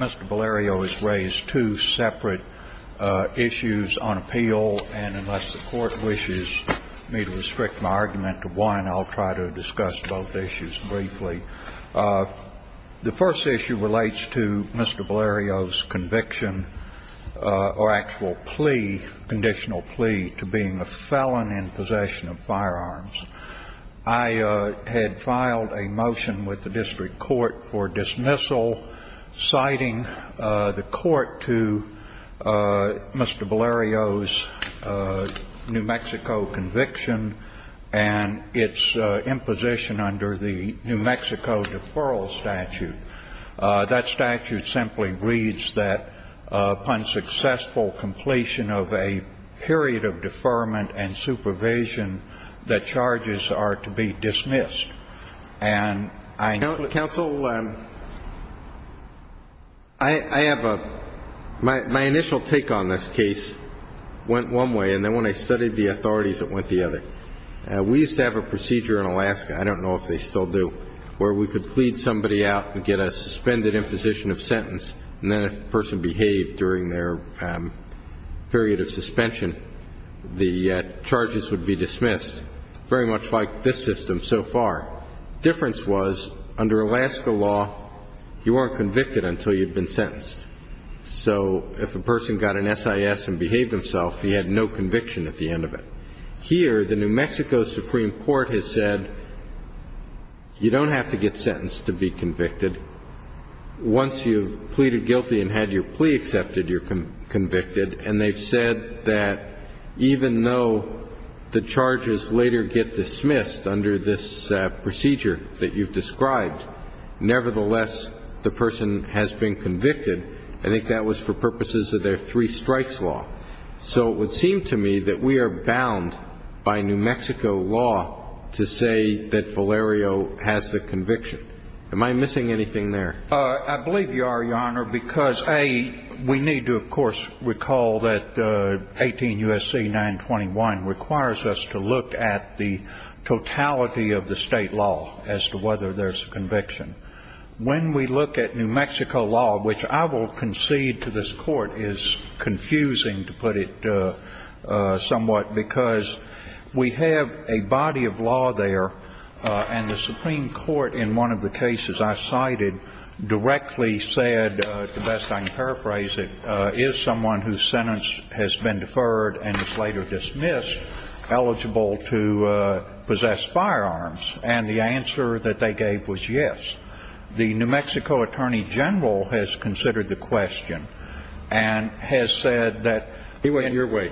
Mr. Valerio has raised two separate issues on appeal, and unless the court wishes me to restrict my argument to one, I'll try to discuss both issues briefly. The first issue relates to Mr. Valerio's conviction or actual plea, conditional plea, to being a felon in possession of firearms. I had filed a motion with the district court for dismissal, citing the court to Mr. Valerio's New Mexico conviction and its imposition under the New Mexico deferral statute. That statute simply reads that, upon successful completion of a period of deferment and supervision, that charges are to be dismissed. And I know that the court is not going to do that. If you get a suspended imposition of sentence and then a person behaved during their period of suspension, the charges would be dismissed, very much like this system so far. The difference was, under Alaska law, you weren't convicted until you'd been sentenced. So if a person got an SIS and behaved himself, he had no conviction at the end of it. Here, the New Mexico Supreme Court has said, you don't have to get sentenced to be convicted. Once you've pleaded guilty and had your plea accepted, you're convicted. And they've said that even though the charges later get dismissed under this procedure that you've described, nevertheless, the person has been convicted. I think that was for purposes of their three-strikes law. So it would seem to me that we are bound by New Mexico law to say that Filario has the conviction. Am I missing anything there? I believe you are, Your Honor, because, A, we need to, of course, recall that 18 U.S.C. 921 requires us to look at the totality of the state law as to whether there's a conviction. When we look at New Mexico law, which I will concede to this Court is confusing, to put it somewhat, because we have a body of law there, and the Supreme Court in one of the cases I cited directly said, to the best I can paraphrase it, is someone whose sentence has been deferred and is later dismissed eligible to possess firearms? And the answer that they gave was yes. The New Mexico attorney general has considered the question and has said that he went your way.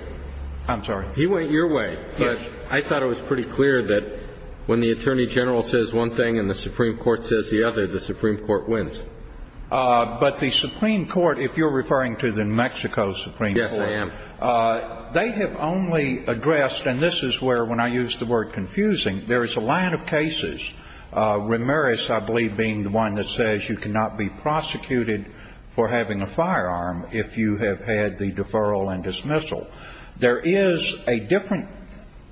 I'm sorry? He went your way. Yes. But I thought it was pretty clear that when the attorney general says one thing and the Supreme Court says the other, the Supreme Court wins. But the Supreme Court, if you're referring to the New Mexico Supreme Court. Yes, I am. They have only addressed, and this is where, when I use the word confusing, there is a line of cases, Ramirez, I believe, being the one that says you cannot be prosecuted for having a firearm if you have had the deferral and dismissal. There is a different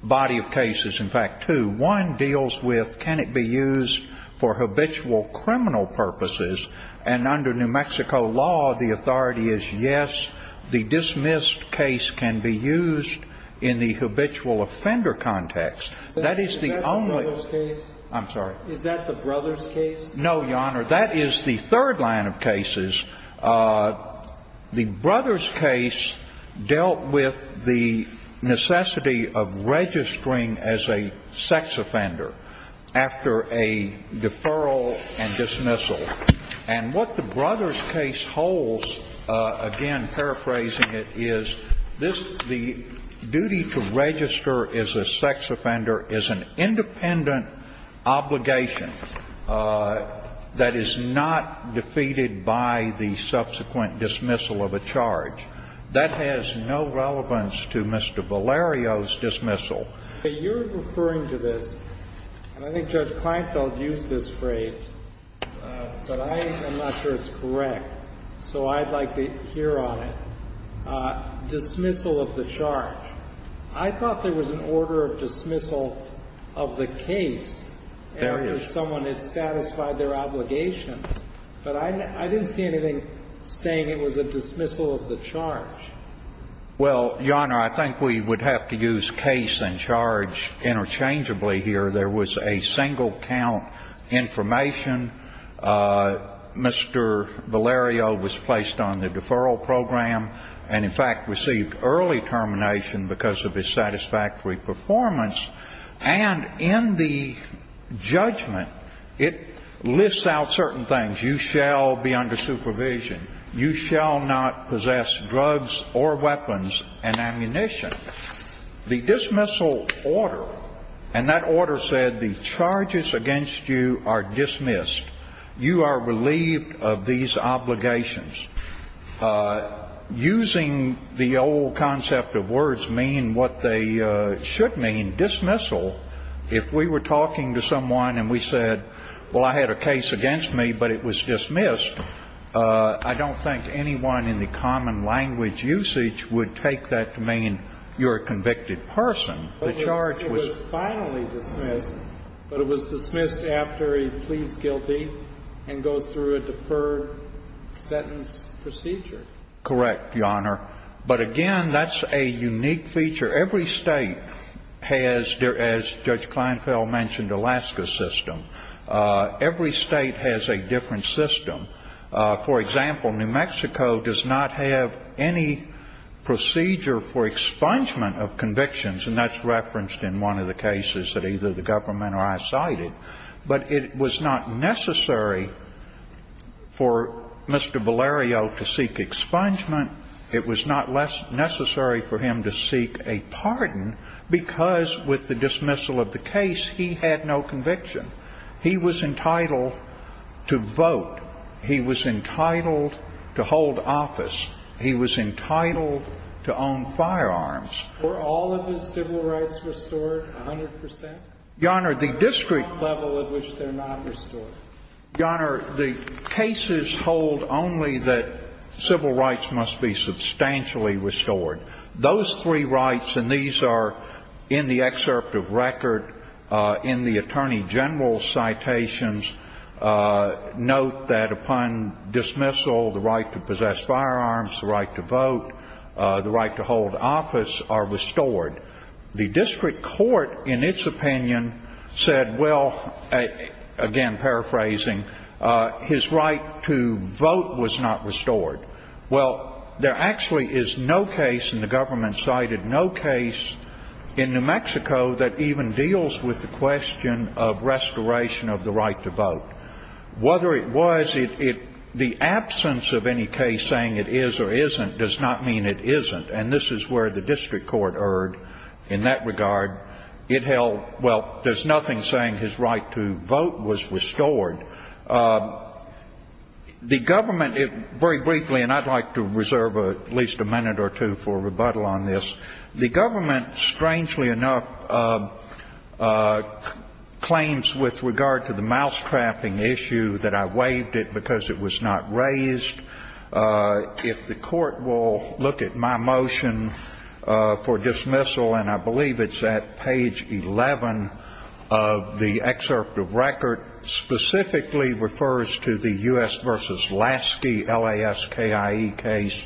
body of cases. In fact, two. One deals with can it be used for habitual criminal purposes? And under New Mexico law, the authority is yes, the dismissed case can be used in the habitual offender context. That is the only. Is that the brothers case? I'm sorry? Is that the brothers case? No, Your Honor. That is the third line of cases. The brothers case dealt with the necessity of registering as a sex offender after a deferral and dismissal. And what the brothers case holds, again paraphrasing it, is this, the duty to register as a sex offender is an independent obligation that is not defeated by the subsequent dismissal of a charge. That has no relevance to Mr. Valerio's dismissal. You're referring to this, and I think Judge Kleinfeld used this phrase, but I am not sure it's correct, so I'd like to hear on it. Dismissal of the charge. I thought there was an order of dismissal of the case after someone had satisfied their obligation. But I didn't see anything saying it was a dismissal of the charge. Well, Your Honor, I think we would have to use case and charge interchangeably here. There was a single count information. Mr. Valerio was placed on the deferral program and, in fact, received early termination because of his satisfactory performance. And in the judgment, it lists out certain things. You shall be under supervision. You shall not possess drugs or weapons and ammunition. The dismissal order, and that order said the charges against you are dismissed. You are relieved of these obligations. Using the old concept of words mean what they should mean. Dismissal, if we were talking to someone and we said, well, I had a case against me, but it was dismissed, I don't think anyone in the common language usage would take that to mean you're a convicted person. The charge was finally dismissed, but it was dismissed after he pleads guilty and goes through a deferred sentence procedure. Correct, Your Honor. But, again, that's a unique feature. Every state has, as Judge Kleinfeld mentioned, Alaska system. Every state has a different system. For example, New Mexico does not have any procedure for expungement of convictions, and that's referenced in one of the cases that either the government or I cited. But it was not necessary for Mr. Valerio to seek expungement. It was not necessary for him to seek a pardon because, with the dismissal of the case, he had no conviction. He was entitled to vote. He was entitled to hold office. He was entitled to own firearms. Were all of his civil rights restored 100 percent? Your Honor, the district — The level at which they're not restored. Your Honor, the cases hold only that civil rights must be substantially restored. Those three rights, and these are in the excerpt of record in the Attorney General's citations, note that upon dismissal, the right to possess firearms, the right to vote, the right to hold office are restored. The district court, in its opinion, said, well, again, paraphrasing, his right to vote was not restored. Well, there actually is no case in the government cited, no case in New Mexico that even deals with the question of restoration of the right to vote. Whether it was, the absence of any case saying it is or isn't does not mean it isn't. And this is where the district court erred in that regard. It held, well, there's nothing saying his right to vote was restored. The government, very briefly, and I'd like to reserve at least a minute or two for rebuttal on this. The government, strangely enough, claims with regard to the mousetrapping issue that I waived it because it was not raised. If the court will look at my motion for dismissal, and I believe it's at page 11 of the excerpt of record, specifically refers to the U.S. v. Lasky, L-A-S-K-I-E case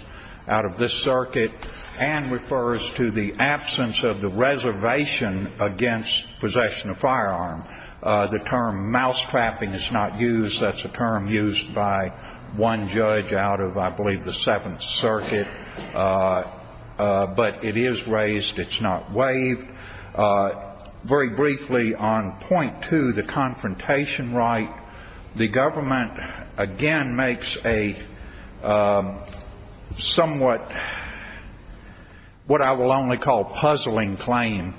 out of this circuit, and refers to the absence of the reservation against possession of firearm. The term mousetrapping is not used. That's a term used by one judge out of, I believe, the Seventh Circuit. But it is raised. It's not waived. Very briefly, on point two, the confrontation right, the government again makes a somewhat what I will only call puzzling claim.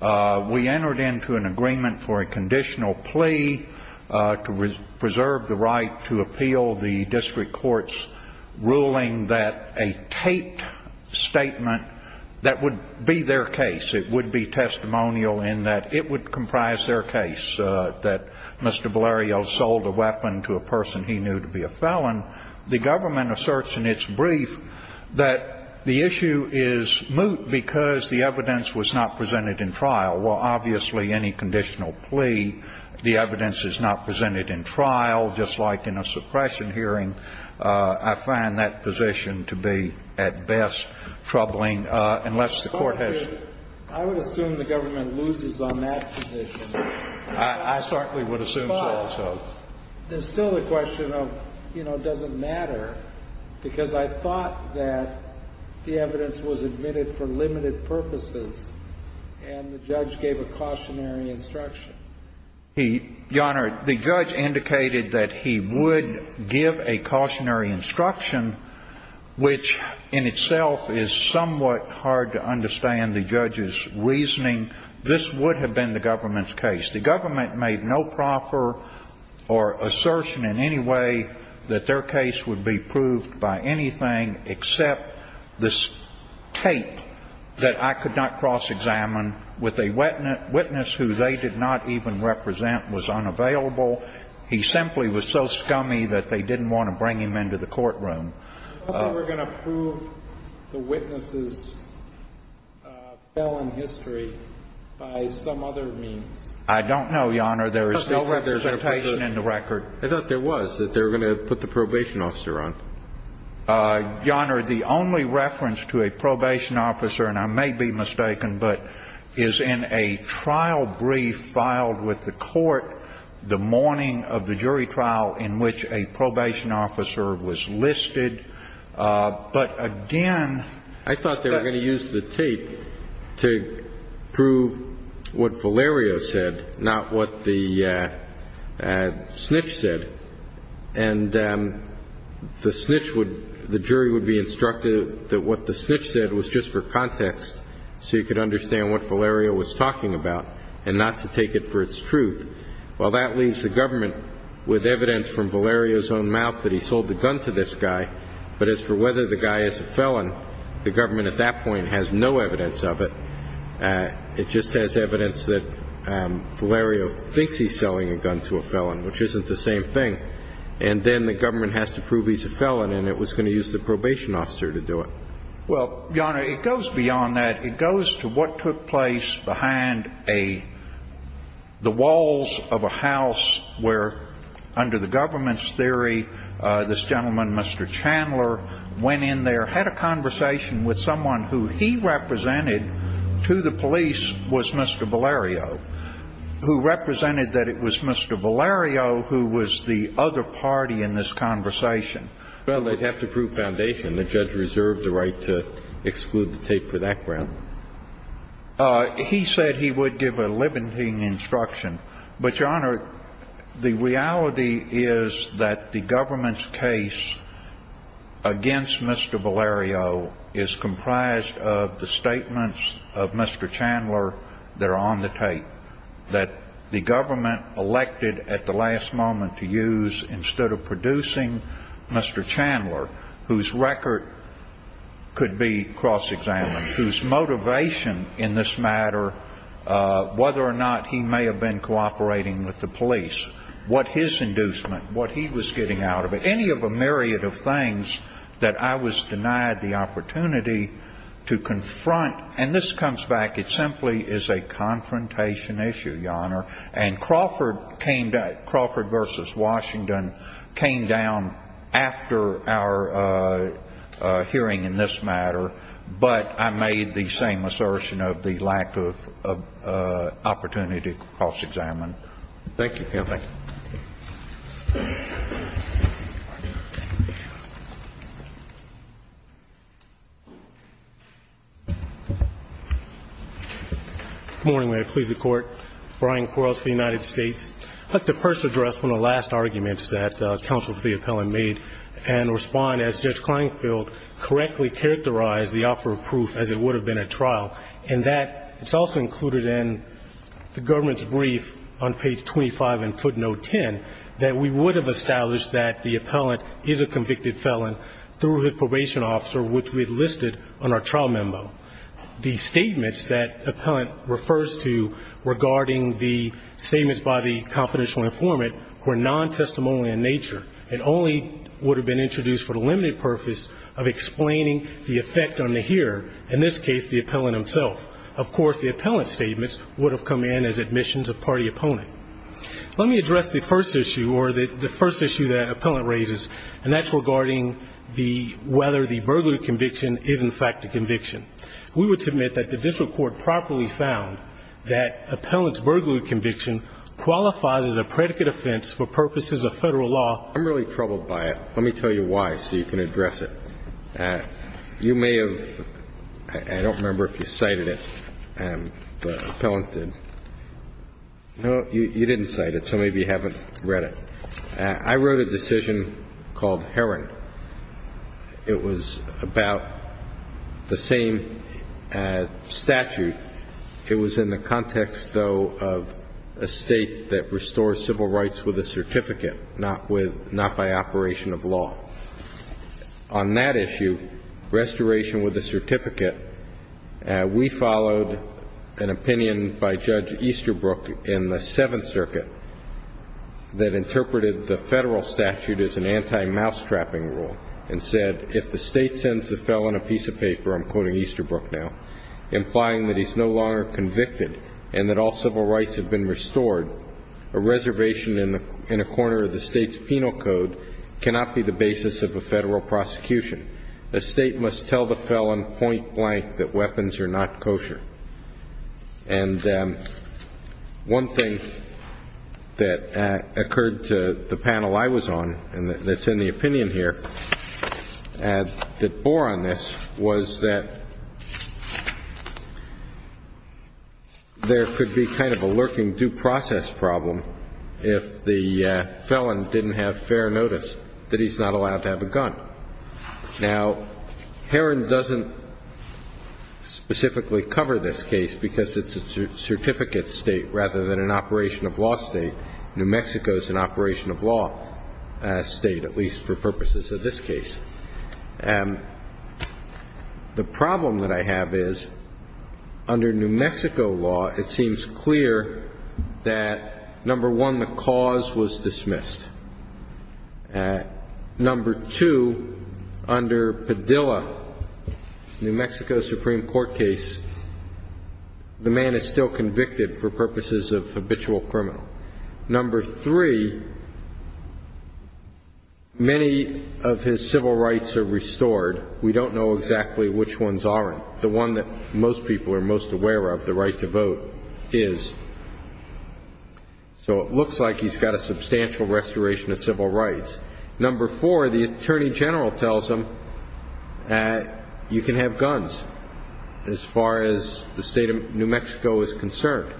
We entered into an agreement for a conditional plea to preserve the right to appeal the district court's ruling that a taped statement that would be their case, it would be testimonial in that it would comprise their case, that Mr. Valerio sold a weapon to a person he knew to be a felon. The government asserts in its brief that the issue is moot because the evidence was not presented in trial. Well, obviously, any conditional plea, the evidence is not presented in trial, just like in a suppression hearing. I find that position to be, at best, troubling, unless the court has to. I would assume the government loses on that position. I certainly would assume so. There's still the question of, you know, does it matter? Because I thought that the evidence was admitted for limited purposes, and the judge gave a cautionary instruction. Your Honor, the judge indicated that he would give a cautionary instruction, which in itself is somewhat hard to understand the judge's reasoning. This would have been the government's case. The government made no proffer or assertion in any way that their case would be proved by anything except this tape that I could not cross-examine with a witness who they did not even represent, was unavailable. He simply was so scummy that they didn't want to bring him into the courtroom. I thought they were going to prove the witness's felon history by some other means. I don't know, Your Honor. There is no representation in the record. I thought there was, that they were going to put the probation officer on. Your Honor, the only reference to a probation officer, and I may be mistaken, but is in a trial brief filed with the court the morning of the jury trial in which a probation officer was listed. But again, I thought they were going to use the tape to prove what Valerio said, not what the snitch said. And the snitch would, the jury would be instructed that what the snitch said was just for context so you could understand what Valerio was talking about and not to take it for its truth. Well, that leaves the government with evidence from Valerio's own mouth that he sold the gun to this guy. But as for whether the guy is a felon, the government at that point has no evidence of it. It just has evidence that Valerio thinks he's selling a gun to a felon, which isn't the same thing. And then the government has to prove he's a felon, and it was going to use the probation officer to do it. Well, Your Honor, it goes beyond that. It goes to what took place behind the walls of a house where, under the government's theory, this gentleman, Mr. Chandler, went in there, had a conversation with someone who he represented to the police was Mr. Valerio, who represented that it was Mr. Valerio who was the other party in this conversation. Well, they'd have to prove foundation. The judge reserved the right to exclude the tape for that ground. He said he would give a limiting instruction. But, Your Honor, the reality is that the government's case against Mr. Valerio is comprised of the statements of Mr. Chandler that are on the tape that the government elected at the last moment to use instead of producing Mr. Chandler, whose record could be cross-examined, whose motivation in this matter, whether or not he may have been cooperating with the police, what his inducement, what he was getting out of it, any of a myriad of things that I was denied the opportunity to confront. And this comes back. And Crawford versus Washington came down after our hearing in this matter, but I made the same assertion of the lack of opportunity to cross-examine. Thank you. Thank you. Good morning. May it please the Court. Brian Quarles for the United States. I'd like to first address one of the last arguments that Counsel to the Appellant made and respond as Judge Kleinfeld correctly characterized the offer of proof as it would have been at trial, and that it's also included in the government's brief on page 25 in footnote 10 that we would have established that the appellant is a convicted felon through his probation officer, which we had listed on our trial memo. The statements that Appellant refers to regarding the statements by the confidential informant were nontestimonial in nature. It only would have been introduced for the limited purpose of explaining the effect on the hearer, in this case the appellant himself. Of course, the appellant's statements would have come in as admissions of party opponent. Let me address the first issue or the first issue that Appellant raises, and that's regarding whether the burglary conviction is, in fact, a conviction. We would submit that the district court properly found that Appellant's burglary conviction qualifies as a predicate offense for purposes of Federal law. I'm really troubled by it. Let me tell you why so you can address it. You may have – I don't remember if you cited it, but Appellant did. No, you didn't cite it, so maybe you haven't read it. I wrote a decision called Herring. It was about the same statute. It was in the context, though, of a state that restores civil rights with a certificate, not by operation of law. On that issue, restoration with a certificate, we followed an opinion by Judge Easterbrook in the Seventh Circuit that interpreted the Federal statute as an anti-mouse-trapping rule and said, if the state sends the felon a piece of paper, I'm quoting Easterbrook now, implying that he's no longer convicted and that all civil rights have been restored, a reservation in a corner of the state's penal code cannot be the basis of a Federal prosecution. A state must tell the felon point blank that weapons are not kosher. And one thing that occurred to the panel I was on, and it's in the opinion here, that bore on this was that there could be kind of a lurking due process problem if the felon didn't have fair notice that he's not allowed to have a gun. Now, Herring doesn't specifically cover this case because it's a certificate state rather than an operation of law state. New Mexico is an operation of law state, at least for purposes of this case. The problem that I have is, under New Mexico law, it seems clear that, number one, the cause was dismissed. Number two, under Padilla, New Mexico's Supreme Court case, the man is still convicted for purposes of habitual criminal. Number three, many of his civil rights are restored. We don't know exactly which ones aren't. The one that most people are most aware of, the right to vote, is. So it looks like he's got a substantial restoration of civil rights. Number four, the attorney general tells him you can have guns as far as the state of New Mexico is concerned.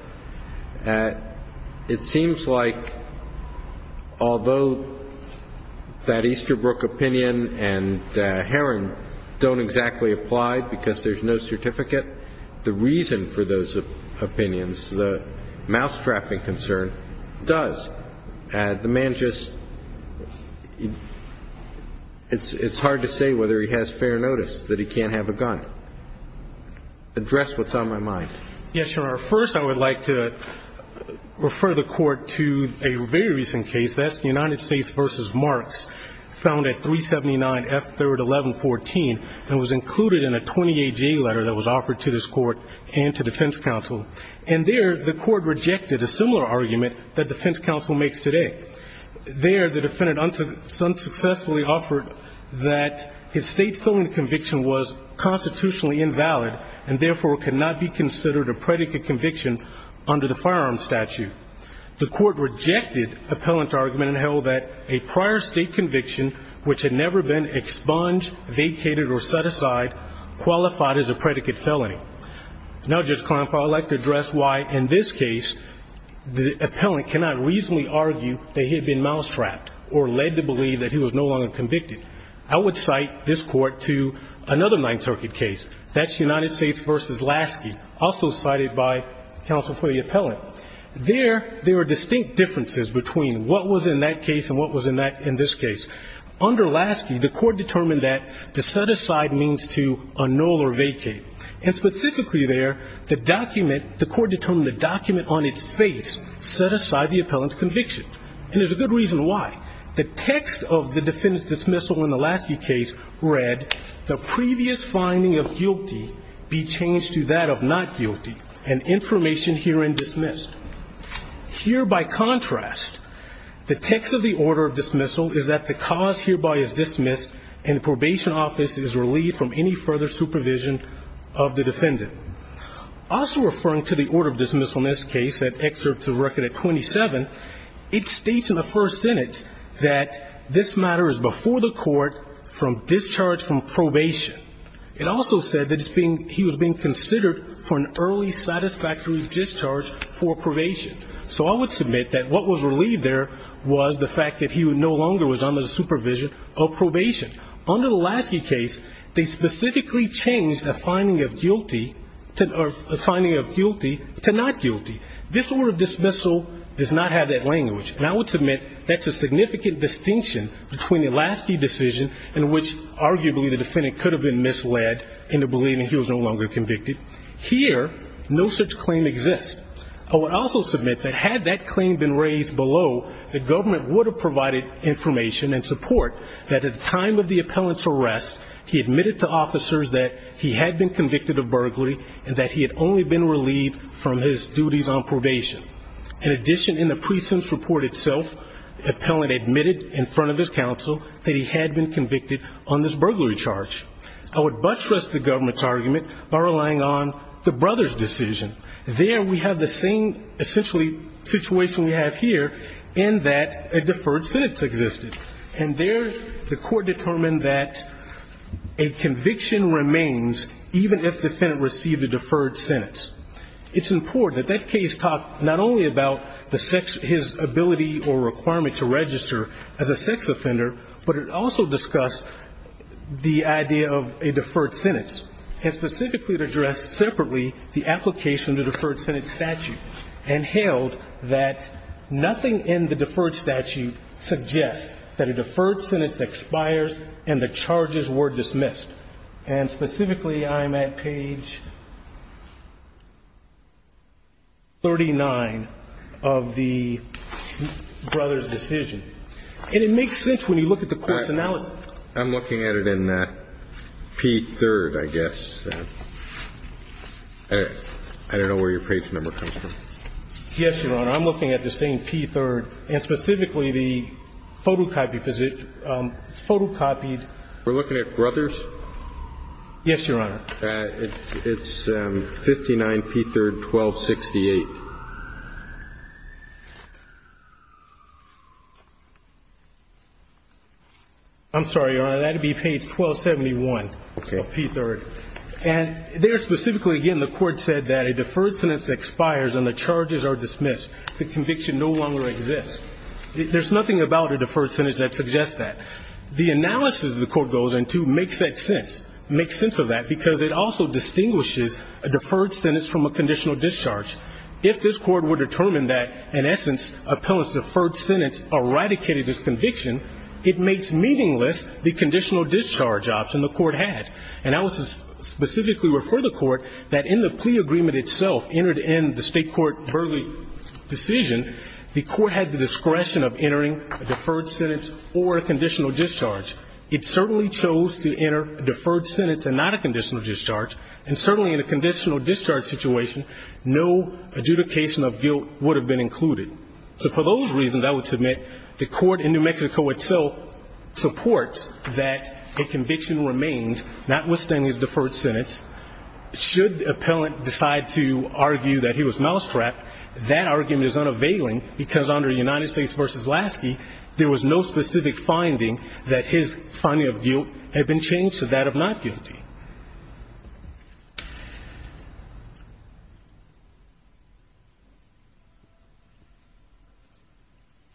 It seems like, although that Easterbrook opinion and Herring don't exactly apply because there's no certificate, the reason for those opinions, the mousetrapping concern, does. The man just — it's hard to say whether he has fair notice that he can't have a gun. Address what's on my mind. Yes, Your Honor. First, I would like to refer the Court to a very recent case. That's the United States v. Marks, found at 379 F. 3rd, 1114, and was included in a 28-G letter that was offered to this Court and to defense counsel. And there, the Court rejected a similar argument that defense counsel makes today. There, the defendant unsuccessfully offered that his state's filming conviction was constitutionally invalid and, therefore, cannot be considered a predicate conviction under the firearms statute. The Court rejected the appellant's argument and held that a prior state conviction, which had never been expunged, vacated, or set aside, qualified as a predicate felony. Now, Judge Kleinfeld, I'd like to address why, in this case, the appellant cannot reasonably argue that he had been mousetrapped or led to believe that he was no longer convicted. I would cite this Court to another Ninth Circuit case. That's United States v. Lasky, also cited by counsel for the appellant. There, there are distinct differences between what was in that case and what was in this case. Under Lasky, the Court determined that to set aside means to annul or vacate. And specifically there, the Court determined the document on its face set aside the appellant's conviction. And there's a good reason why. The text of the defendant's dismissal in the Lasky case read, the previous finding of guilty be changed to that of not guilty, and information herein dismissed. Here, by contrast, the text of the order of dismissal is that the cause hereby is dismissed and the probation office is relieved from any further supervision of the defendant. Also referring to the order of dismissal in this case, an excerpt to record at 27, it states in the first sentence that this matter is before the Court from discharge from probation. It also said that he was being considered for an early satisfactory discharge for probation. So I would submit that what was relieved there was the fact that he no longer was under the supervision of probation. Under the Lasky case, they specifically changed the finding of guilty to not guilty. This order of dismissal does not have that language. And I would submit that's a significant distinction between the Lasky decision in which arguably the defendant could have been misled into believing he was no longer convicted. Here, no such claim exists. I would also submit that had that claim been raised below, the government would have provided information and support that at the time of the appellant's arrest, he admitted to officers that he had been convicted of burglary and that he had only been relieved from his duties on probation. In addition, in the precinct's report itself, the appellant admitted in front of his counsel that he had been convicted on this burglary charge. I would buttress the government's argument by relying on the brothers' decision. There we have the same essentially situation we have here in that a deferred sentence existed. And there the court determined that a conviction remains even if the defendant received a deferred sentence. It's important that that case talked not only about his ability or requirement to register as a sex offender, but it also discussed the idea of a deferred sentence and specifically addressed separately the application of the deferred sentence statute and held that nothing in the deferred statute suggests that a deferred sentence expires and the charges were dismissed. And specifically, I'm at page 39 of the brothers' decision. And it makes sense when you look at the court's analysis. I'm looking at it in P3rd, I guess. I don't know where your page number comes from. Yes, Your Honor. I'm looking at the same P3rd and specifically the photocopied position, photocopied. We're looking at brothers? Yes, Your Honor. It's 59P3rd1268. I'm sorry, Your Honor. That would be page 1271 of P3rd. And there specifically, again, the court said that a deferred sentence expires and the charges are dismissed. The conviction no longer exists. There's nothing about a deferred sentence that suggests that. The analysis the court goes into makes that sense, makes sense of that, because it also distinguishes a deferred sentence from a conditional discharge. If this court were to determine that, in essence, a felon's deferred sentence eradicated his conviction, it makes meaningless the conditional discharge option the court had. And I would specifically refer the court that in the plea agreement itself, entered in the state court verdict decision, the court had the discretion of entering a deferred sentence or a conditional discharge. It certainly chose to enter a deferred sentence and not a conditional discharge, and certainly in a conditional discharge situation, no adjudication of guilt would have been included. So for those reasons, I would submit the court in New Mexico itself supports that a conviction remains, notwithstanding his deferred sentence. Should the appellant decide to argue that he was mousetrapped, that argument is unavailing, because under United States v. Lasky, there was no specific finding that his finding of guilt had been changed to that of not guilty. Ginsburg.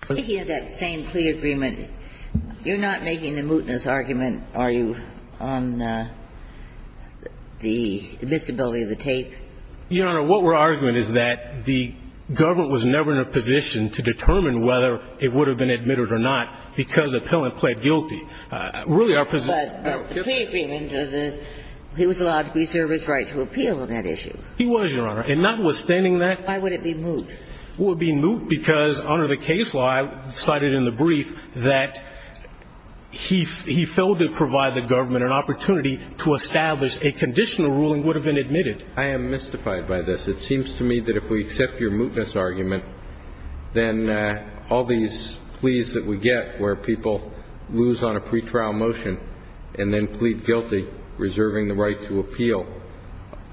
GINSBURG. I hear that same plea agreement. You're not making the mootness argument, are you, on the admissibility of the tape? Your Honor, what we're arguing is that the government was never in a position to determine whether it would have been admitted or not because the appellant pled guilty. But the plea agreement, he was allowed to preserve his right to appeal on that issue. He was, Your Honor. And notwithstanding that. Why would it be moot? It would be moot because under the case law, I cited in the brief, that he failed to provide the government an opportunity to establish a conditional ruling would have been admitted. I am mystified by this. It seems to me that if we accept your mootness argument, then all these pleas that we get where people lose on a pre-trial motion and then plead guilty, reserving the right to appeal,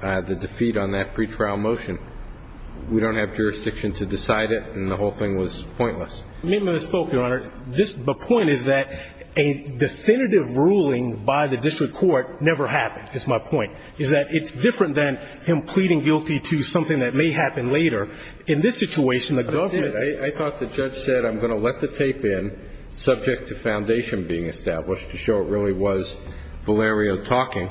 the defeat on that pre-trial motion, we don't have jurisdiction to decide it, and the whole thing was pointless. The amendment is spoke, Your Honor. The point is that a definitive ruling by the district court never happened, is my point, is that it's different than him pleading guilty to something that may happen later. In this situation, the government. I thought the judge said I'm going to let the tape in subject to foundation being established to show it really was Valerio talking.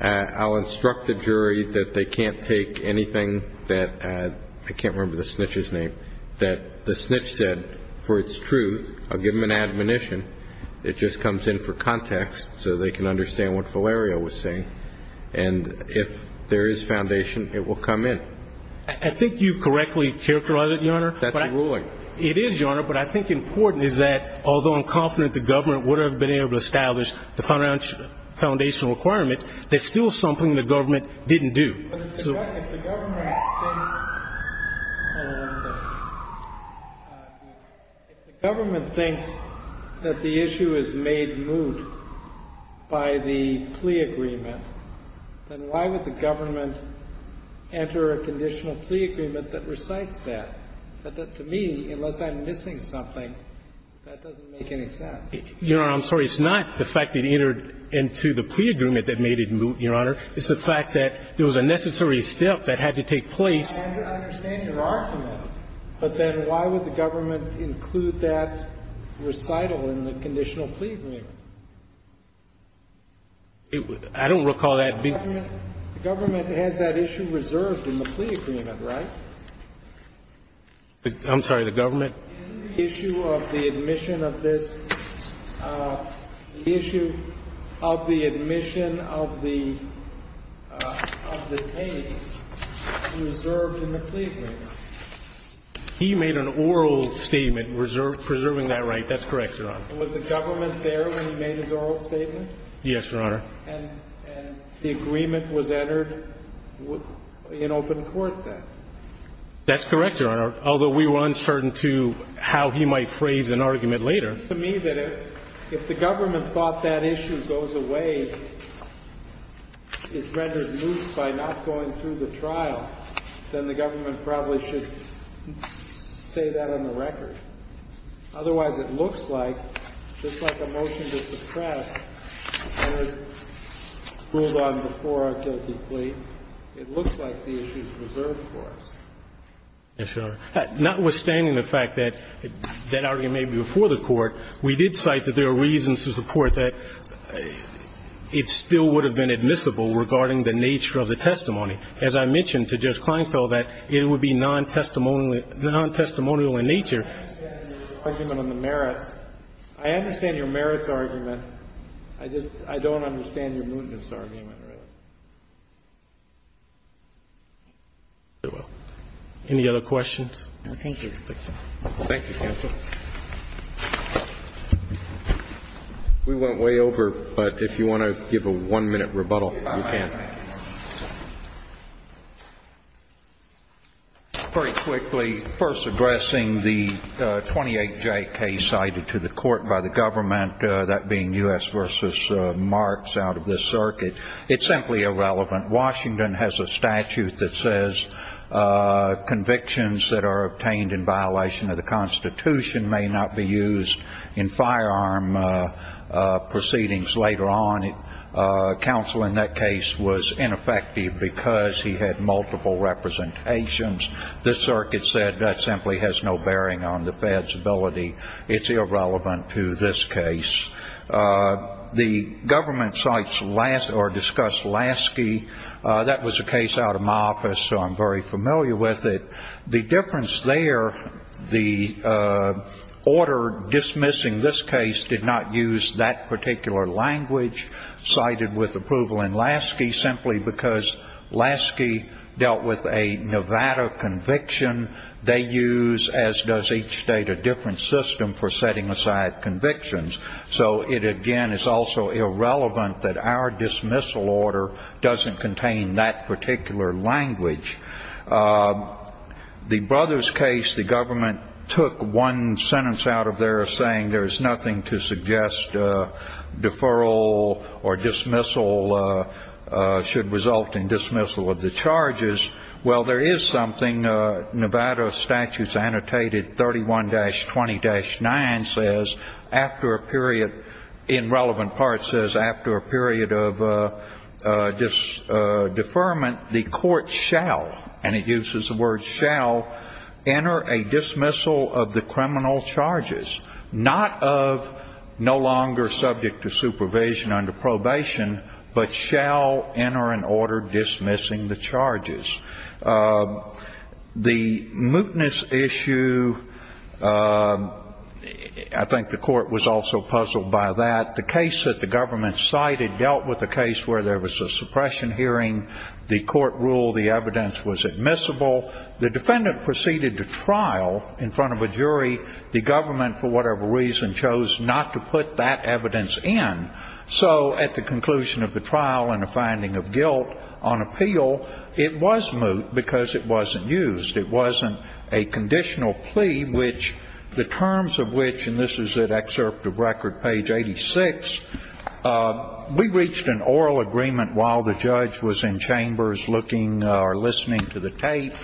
I'll instruct the jury that they can't take anything that I can't remember the snitch's name, that the snitch said for its truth. I'll give them an admonition. It just comes in for context so they can understand what Valerio was saying. And if there is foundation, it will come in. I think you correctly characterized it, Your Honor. That's a ruling. It is, Your Honor. But I think important is that although I'm confident the government would have been able to establish the foundation requirement, there's still something the government didn't do. If the government thinks that the issue is made moot by the plea agreement, then why would the government enter a conditional plea agreement that recites that? But to me, unless I'm missing something, that doesn't make any sense. Your Honor, I'm sorry. It's not the fact it entered into the plea agreement that made it moot, Your Honor. It's the fact that there was a necessary step that had to take place. I understand your argument. But then why would the government include that recital in the conditional plea agreement? I don't recall that being. The government has that issue reserved in the plea agreement, right? I'm sorry. The government? In the issue of the admission of this, the issue of the admission of the tape reserved in the plea agreement. He made an oral statement preserving that right. That's correct, Your Honor. Was the government there when he made his oral statement? Yes, Your Honor. And the agreement was entered in open court then? That's correct, Your Honor, although we were uncertain, too, how he might phrase an argument later. It seems to me that if the government thought that issue goes away, is rendered moot by not going through the trial, then the government probably should say that on the record. Otherwise, it looks like, just like a motion to suppress that was ruled on before our guilty plea, it looks like the issue is reserved for us. Yes, Your Honor. Notwithstanding the fact that that argument may be before the Court, we did cite that there are reasons to support that it still would have been admissible regarding the nature of the testimony. As I mentioned to Judge Kleinfeld, that it would be non-testimonial in nature. I understand your argument on the merits. I understand your merits argument. I just don't understand your mootness argument, really. Any other questions? No, thank you. Thank you, counsel. We went way over, but if you want to give a one-minute rebuttal, you can. Very quickly, first addressing the 28J case cited to the Court by the government, that being U.S. v. Marx out of this circuit. It's simply irrelevant. Washington has a statute that says convictions that are obtained in violation of the Constitution may not be used in firearm proceedings later on. Counsel in that case was ineffective because he had multiple representations. This circuit said that simply has no bearing on the Fed's ability. It's irrelevant to this case. The government sites or discussed Lasky. That was a case out of my office, so I'm very familiar with it. The difference there, the order dismissing this case did not use that particular language cited with approval in Lasky simply because Lasky dealt with a Nevada conviction. They use, as does each state, a different system for setting aside convictions. So it, again, is also irrelevant that our dismissal order doesn't contain that particular language. The Brothers case, the government took one sentence out of there saying there is nothing to suggest deferral or dismissal should result in dismissal of the charges. Well, there is something. Nevada statutes annotated 31-20-9 says after a period, in relevant parts, says after a period of deferment, the court shall, and it uses the word shall, enter a dismissal of the criminal charges, not of no longer subject to supervision under probation, but shall enter an order dismissing the charges. The mootness issue, I think the court was also puzzled by that. The case that the government cited dealt with a case where there was a suppression hearing. The court ruled the evidence was admissible. The defendant proceeded to trial in front of a jury. The government, for whatever reason, chose not to put that evidence in. So at the conclusion of the trial and a finding of guilt on appeal, it was moot because it wasn't used. It wasn't a conditional plea which the terms of which, and this is at excerpt of record page 86, we reached an oral agreement while the judge was in chambers looking or listening to the tape,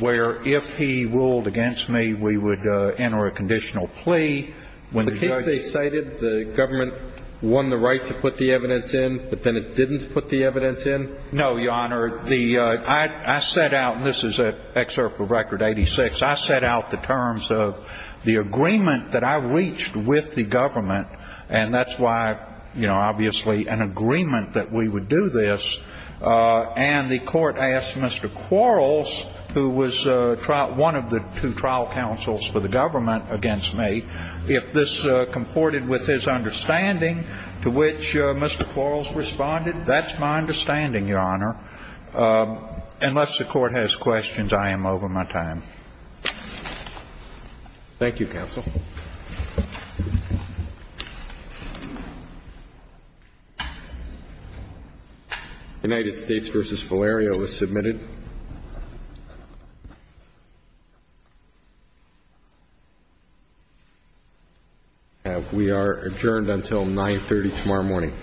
where if he ruled against me, we would enter a conditional plea. The case they cited, the government won the right to put the evidence in, but then it didn't put the evidence in? No, Your Honor. I set out, and this is at excerpt of record 86, I set out the terms of the agreement that I reached with the government, and that's why, you know, obviously an agreement that we would do this. And the court asked Mr. Quarles, who was one of the two trial counsels for the government against me, if this comported with his understanding to which Mr. Quarles responded. That's my understanding, Your Honor. Unless the Court has questions, I am over my time. Thank you, counsel. United States v. Valerio is submitted. We are adjourned until 9.30 tomorrow morning. Thank you, Your Honor. Thank you.